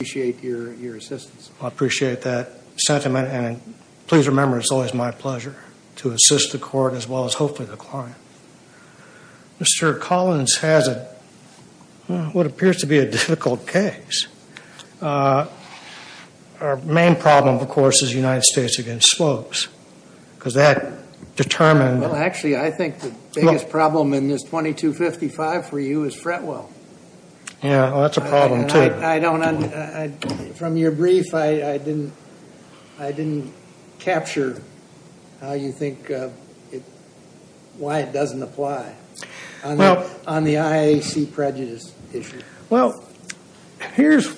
I appreciate that sentiment, and please remember it's always my pleasure to assist the Court as well as hopefully the client. Mr. Collins has what appears to be a difficult case. Our main problem, of course, is the United States against slopes, because that determined Well, actually, I think the biggest problem in this 2255 for you is Fretwell. Yeah, well, that's a problem, too. I don't, from your brief, I didn't capture how you think, why it doesn't apply on the IAC prejudice issue. Well, here's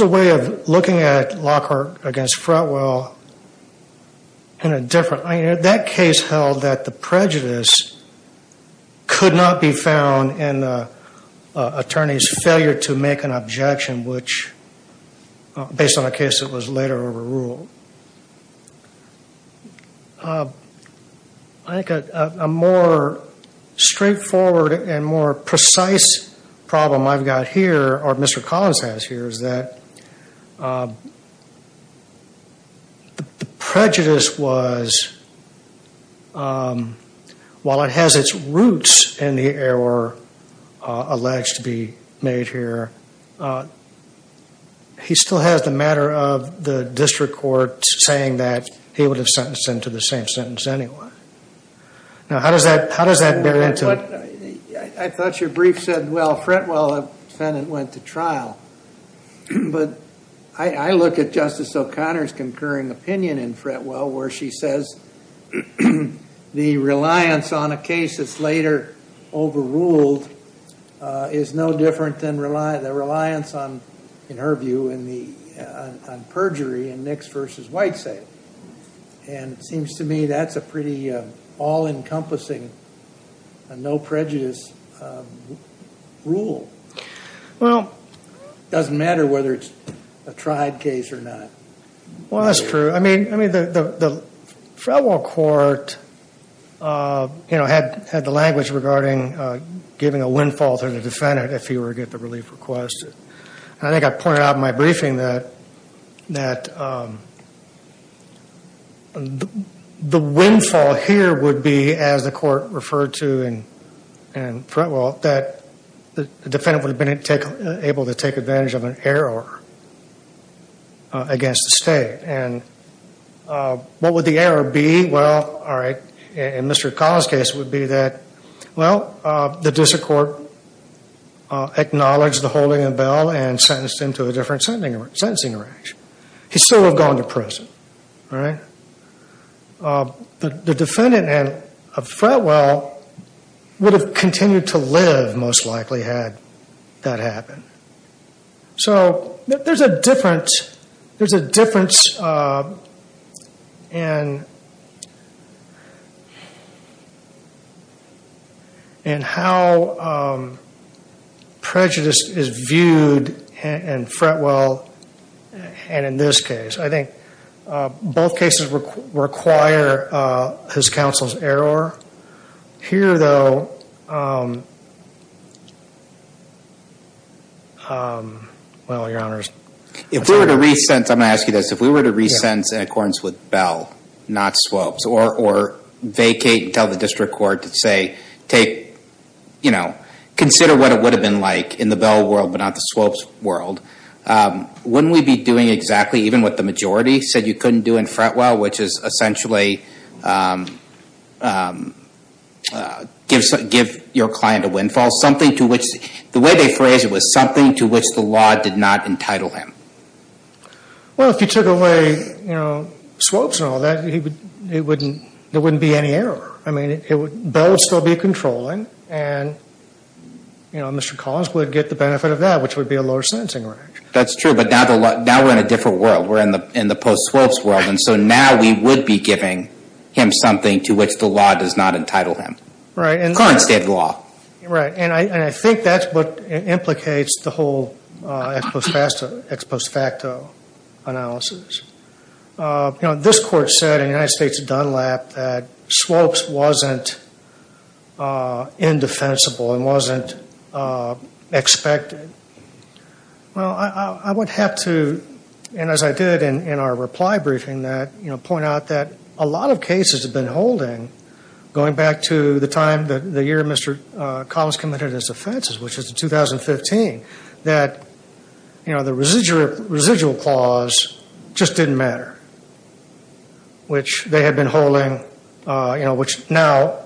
a way of looking at Lockhart against Fretwell in a different way. That case held that the prejudice could not be found in the attorney's failure to make an objection, which, based on a case that was later overruled. I think a more straightforward and more precise problem I've got here, or Mr. Collins has here, is that the prejudice was, while it has its roots in the error alleged to be made here, he still has the matter of the district court saying that he would have sentenced him to the same sentence anyway. Now, how does that, how does that bear into. I thought your brief said, well, Fretwell defendant went to trial. But I look at Justice O'Connor's concurring opinion in Fretwell, where she says, the reliance on a case that's later overruled is no different than the reliance on, in her view, on perjury in Nix versus Whitesale. And it seems to me that's a pretty all-encompassing and no prejudice rule. Well. Doesn't matter whether it's a tried case or not. Well, that's true. I mean, the Fretwell court, you know, had the language regarding giving a windfall to the defendant if he were to get the relief request. I think I pointed out in my briefing that the windfall here would be, as the court referred to in Fretwell, that the defendant would have been able to take advantage of an error against the state. And what would the error be? Well, all right, in Mr. Collins' case, it would be that, well, the district court acknowledged the holding of the bail and sentenced him to a different sentencing arrangement. He still would have gone to prison. All right? The defendant in Fretwell would have continued to live, most likely, had that happened. So there's a difference in how prejudice is viewed in Fretwell and in this case. I think both cases require his counsel's error. Here, though, well, your honors. If we were to re-sentence, I'm going to ask you this. If we were to re-sentence in accordance with Bell, not Swopes, or vacate and tell the district court to say, take, you know, consider what it would have been like in the Bell world but not the Swopes world, wouldn't we be doing exactly even what the majority said you couldn't do in Fretwell, which is essentially give your client a windfall, something to which, the way they phrased it was something to which the law did not entitle him? Well, if you took away, you know, Swopes and all that, there wouldn't be any error. I mean, Bell would still be controlling and, you know, Mr. Collins would get the benefit of that, which would be a lower sentencing reaction. That's true, but now we're in a different world. We're in the post-Swopes world, and so now we would be giving him something to which the law does not entitle him. Right. In the current state of the law. Right, and I think that's what implicates the whole ex post facto analysis. You know, this court said in the United States Dunlap that Swopes wasn't indefensible and wasn't expected. Well, I would have to, and as I did in our reply briefing that, you know, point out that a lot of cases have been holding going back to the time, the year Mr. Collins committed his offenses, which was in 2015, that, you know, the residual clause just didn't matter, which they had been holding, you know, which now,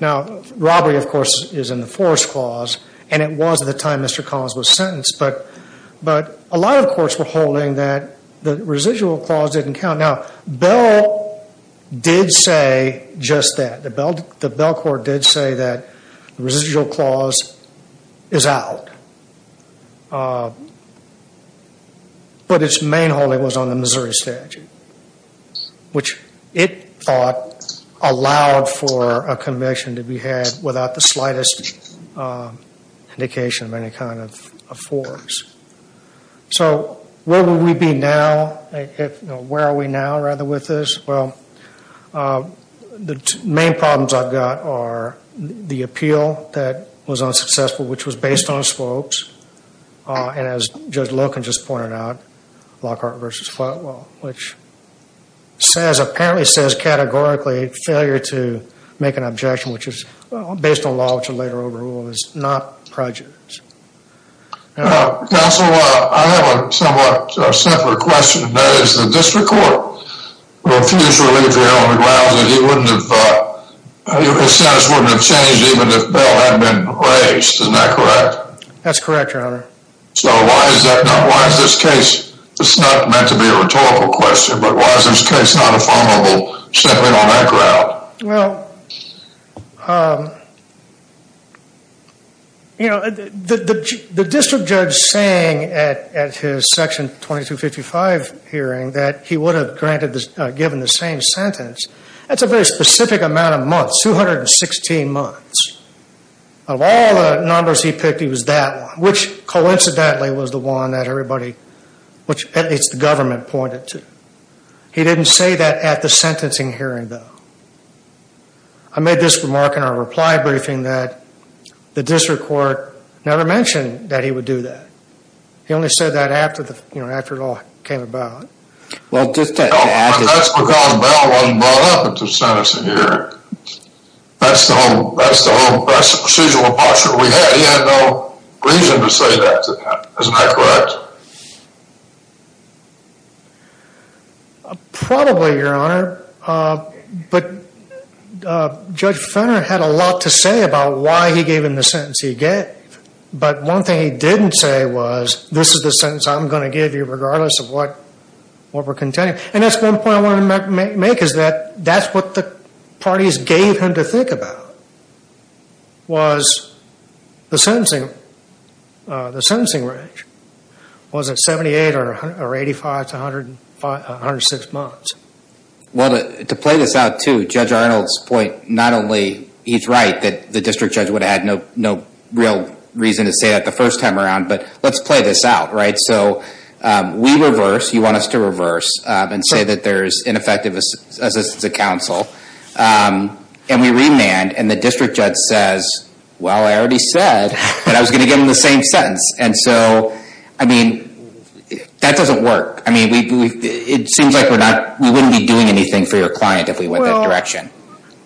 now robbery, of course, is in the force clause, and it was at the time Mr. Collins was sentenced, but a lot of courts were holding that the residual clause didn't count. Now, Bell did say just that. The Bell court did say that the residual clause is out, but its main holding was on the Missouri statute, which it thought allowed for a conviction to be had without the slightest indication of any kind of force. So, where would we be now, if, you know, where are we now, rather, with this? Well, the main problems I've got are the appeal that was unsuccessful, which was based on Swopes, and as Judge Loken just pointed out, Lockhart v. Flatwell, which says, apparently says, categorically, failure to make an objection, which is based on law, which will later overrule, is not prejudice. Counsel, I have a somewhat simpler question. That is, the district court refused to relieve General McLeod that he wouldn't have, his sentence wouldn't have changed even if Bell hadn't been raised. Isn't that correct? That's correct, Your Honor. So, why is that not, why is this case, it's not meant to be a rhetorical question, but why is this case not affirmable simply on that ground? Well, you know, the district judge saying at his Section 2255 hearing that he would have granted, given the same sentence, that's a very specific amount of months, 216 months. Of all the numbers he picked, he was that one, which coincidentally was the one that everybody, which at least the government pointed to. He didn't say that at the sentencing hearing, though. I made this remark in our reply briefing that the district court never mentioned that he would do that. He only said that after the, you know, after it all came about. Well, just to add to that. No, that's because Bell wasn't brought up at the sentencing hearing. That's the whole, that's the whole, that's the procedural impartiality we had. He had no reason to say that to them. Isn't that correct? Probably, Your Honor. But Judge Fenner had a lot to say about why he gave him the sentence he gave. But one thing he didn't say was, this is the sentence I'm going to give you regardless of what, what we're contending. And that's one point I want to make, is that that's what the parties gave him to think about, was the sentencing, the sentencing range. Was it 78 or 85 to 105, 106 months? Well, to play this out too, Judge Arnold's point, not only he's right that the district judge would have had no, no real reason to say that the first time around, but let's play this out, right? So, we reverse, you want us to reverse, and say that there's ineffective assistance of counsel. And we remand, and the district judge says, well, I already said that I was going to give him the same sentence. And so, I mean, that doesn't work. I mean, we, we, it seems like we're not, we wouldn't be doing anything for your client if we went that direction.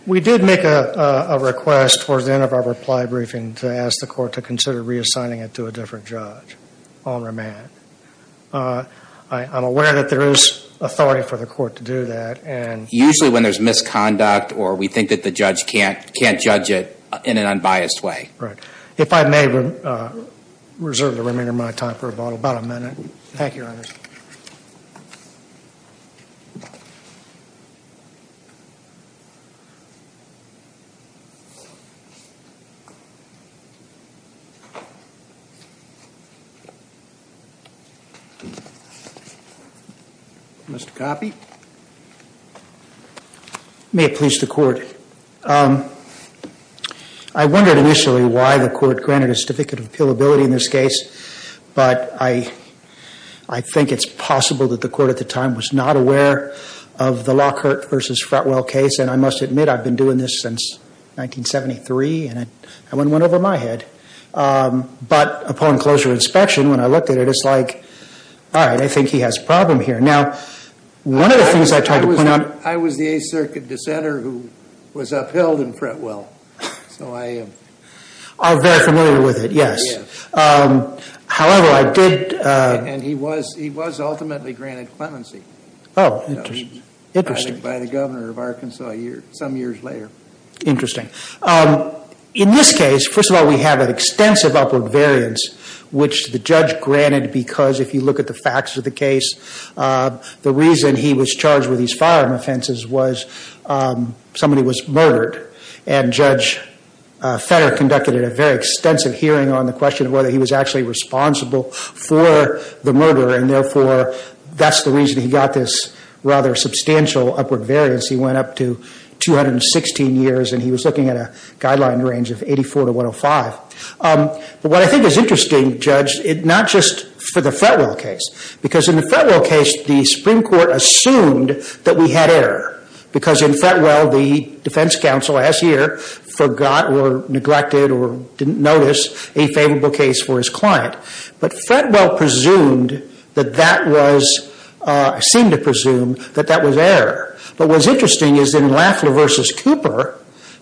We did make a, a request towards the end of our reply briefing to ask the court to consider reassigning it to a different judge on remand. I, I'm aware that there is authority for the court to do that, and. Usually when there's misconduct, or we think that the judge can't, can't judge it in an unbiased way. Right. If I may reserve the remainder of my time for rebuttal, about a minute. Thank you, Your Honor. Mr. Coffey? May it please the court. I wondered initially why the court granted a certificate of appealability in this case. But I, I think it's possible that the court at the time was not aware of the Lockhart versus Fretwell case. And I must admit, I've been doing this since 1973, and I, I went one over my head. But upon closer inspection, when I looked at it, it's like, all right, I think he has a problem here. Now, one of the things I tried to point out. I was the Eighth Circuit dissenter who was upheld in Fretwell. So I. Are very familiar with it, yes. Yes. However, I did. And he was, he was ultimately granted clemency. Oh, interesting. Interesting. By the governor of Arkansas a year, some years later. Interesting. In this case, first of all, we have an extensive upward variance. Which the judge granted because, if you look at the facts of the case, the reason he was charged with these firearm offenses was somebody was murdered. And Judge Fetter conducted a very extensive hearing on the question of whether he was actually responsible for the murder. And therefore, that's the reason he got this rather substantial upward variance. He went up to 216 years, and he was looking at a guideline range of 84 to 105. But what I think is interesting, Judge, not just for the Fretwell case. Because in the Fretwell case, the Supreme Court assumed that we had error. Because in Fretwell, the defense counsel last year forgot or neglected or didn't notice a favorable case for his client. But Fretwell presumed that that was, seemed to presume that that was error. But what's interesting is in Lafler versus Cooper,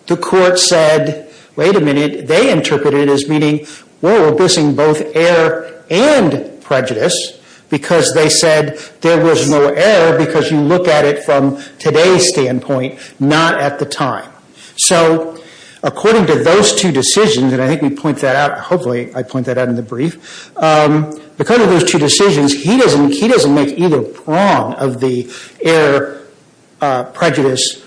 the court said, wait a minute. They interpreted it as meaning, whoa, we're missing both error and prejudice. Because they said there was no error because you look at it from today's standpoint, not at the time. So according to those two decisions, and I think we point that out, hopefully I point that out in the brief. Because of those two decisions, he doesn't make either prong of the error prejudice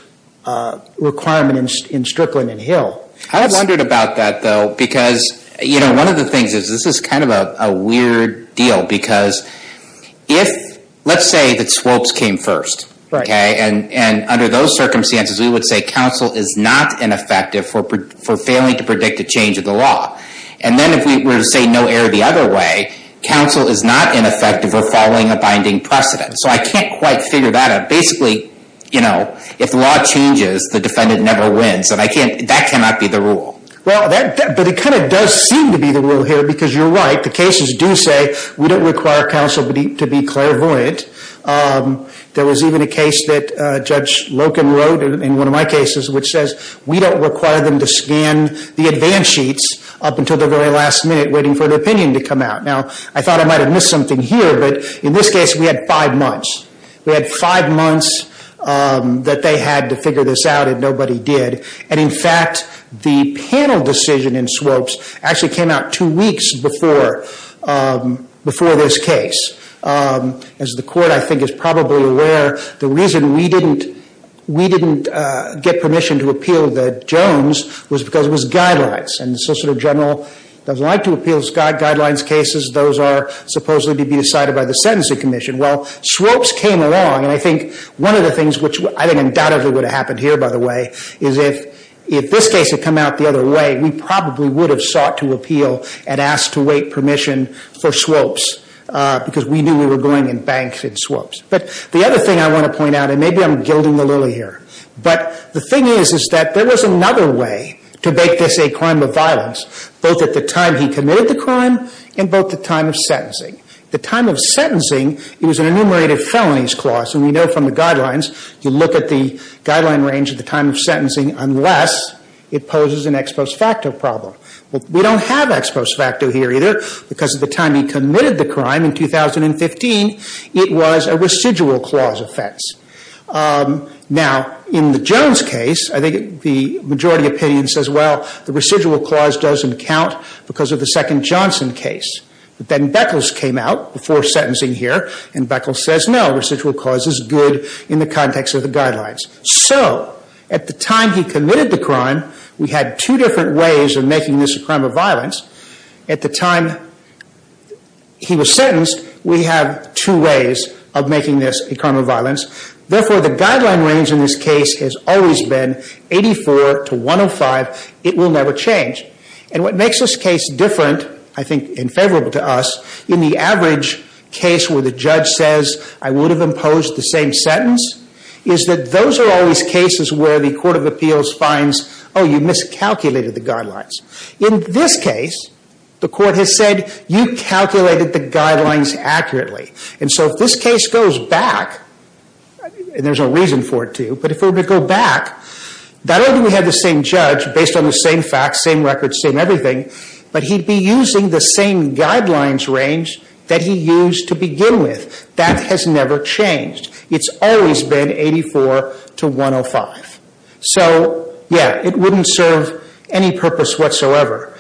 requirements in Strickland and Hill. I wondered about that though, because one of the things is, this is kind of a weird deal. Because if, let's say that Swopes came first, okay? And under those circumstances, we would say counsel is not ineffective for failing to predict a change of the law. And then if we were to say no error the other way, counsel is not ineffective or following a binding precedent. So I can't quite figure that out. Basically, if the law changes, the defendant never wins, and that cannot be the rule. Well, but it kind of does seem to be the rule here, because you're right. The cases do say, we don't require counsel to be clairvoyant. There was even a case that Judge Loken wrote in one of my cases, which says we don't require them to scan the advance sheets up until the very last minute, waiting for an opinion to come out. Now, I thought I might have missed something here, but in this case, we had five months. We had five months that they had to figure this out, and nobody did. And in fact, the panel decision in Swopes actually came out two weeks before this case. As the court, I think, is probably aware, the reason we didn't get permission to appeal the Jones was because it was guidelines. And the Solicitor General doesn't like to appeal guidelines cases. Those are supposedly to be decided by the Sentencing Commission. Well, Swopes came along, and I think one of the things which I think undoubtedly would have happened here, by the way, is if this case had come out the other way, we probably would have sought to appeal and because we knew we were going in banks in Swopes. But the other thing I want to point out, and maybe I'm gilding the lily here, but the thing is, is that there was another way to make this a crime of violence, both at the time he committed the crime and both the time of sentencing. The time of sentencing, it was an enumerated felonies clause, and we know from the guidelines, you look at the guideline range at the time of sentencing unless it poses an ex post facto problem. Well, we don't have ex post facto here either because at the time he committed the crime in 2015, it was a residual clause offense. Now, in the Jones case, I think the majority opinion says, well, the residual clause doesn't count because of the second Johnson case. But then Beckles came out before sentencing here, and Beckles says, no, residual clause is good in the context of the guidelines. So, at the time he committed the crime, we had two different ways of making this a crime of violence. At the time he was sentenced, we have two ways of making this a crime of violence. Therefore, the guideline range in this case has always been 84 to 105, it will never change. And what makes this case different, I think, and favorable to us, in the average case where the judge says, I would have imposed the same sentence, is that those are always cases where the court of appeals finds, oh, you miscalculated the guidelines. In this case, the court has said, you calculated the guidelines accurately. And so if this case goes back, and there's a reason for it to, but if it were to go back, not only do we have the same judge based on the same facts, same records, same everything, but he'd be using the same guidelines range that he used to begin with. That has never changed. It's always been 84 to 105. So, yeah, it wouldn't serve any purpose whatsoever.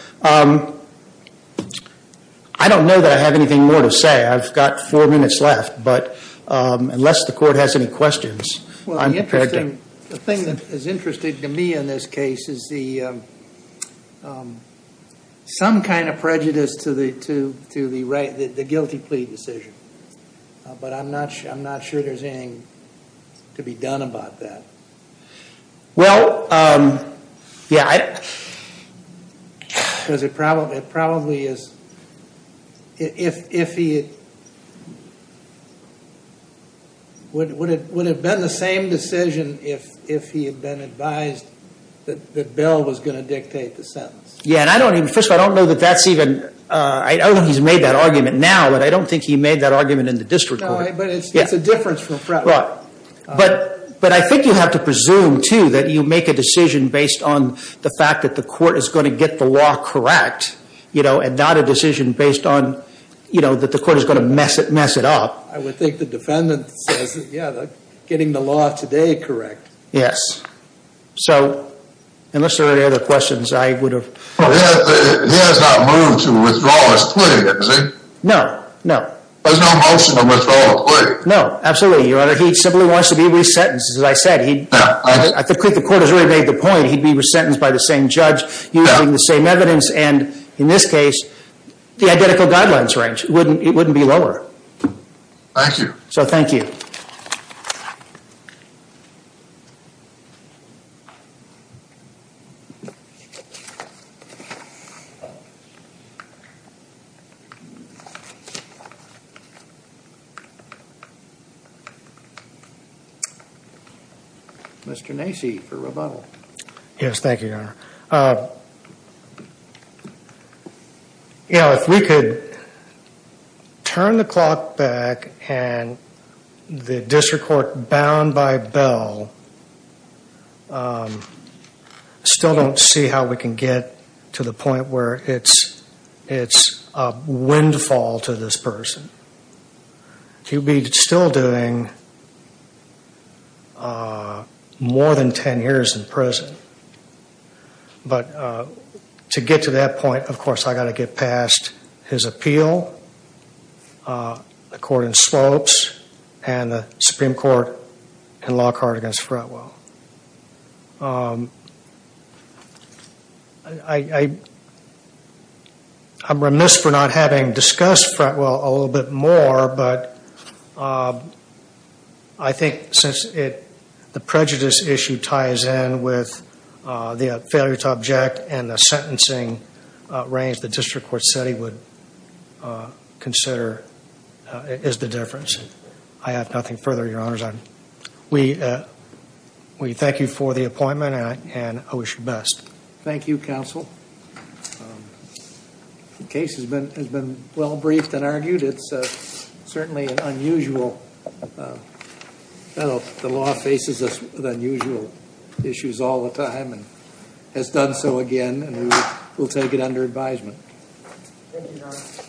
I don't know that I have anything more to say. I've got four minutes left, but unless the court has any questions, I'm prepared to. The thing that is interesting to me in this case is some kind of prejudice to the guilty plea decision. But I'm not sure there's anything to be done about that. Well, yeah. Because it probably is, if he, would it have been the same decision if he had been advised that Bill was going to dictate the sentence? Yeah, and I don't even, first of all, I don't know that that's even, I don't think he's made that argument now, but I don't think he made that argument in the district court. No, but it's a difference from Fretwell. But I think you have to presume, too, that you make a decision based on the fact that the court is going to get the law correct, you know, and not a decision based on, you know, that the court is going to mess it up. I would think the defendant says, yeah, they're getting the law today correct. Yes. So, unless there are any other questions, I would have. He has not moved to withdraw his plea, has he? No, no. There's no motion to withdraw a plea? No, absolutely, Your Honor. He simply wants to be resentenced, as I said. I think the court has already made the point, he'd be resentenced by the same judge using the same evidence, and in this case, the identical guidelines range, it wouldn't be lower. Thank you. So, thank you. Mr. Nacy, for rebuttal. Yes, thank you, Your Honor. You know, if we could turn the clock back and the district court bound by bell still don't see how we can get to the point where it's a windfall to this person. He'll be still doing more than 10 years in prison, but to get to that point, of course, I got to get past his appeal, the court in slopes, and the Supreme Court in Lockhart against Fretwell. I'm remiss for not having discussed Fretwell a little bit more, but I think since the prejudice issue ties in with the failure to object and the sentencing range, the district court said he would consider is the difference. I have nothing further, Your Honors. We thank you for the appointment, and I wish you best. Thank you, counsel. The case has been well briefed and argued. It's certainly unusual. The law faces us with unusual issues all the time and has done so again, and we'll take it under advisement. Thank you, Your Honor.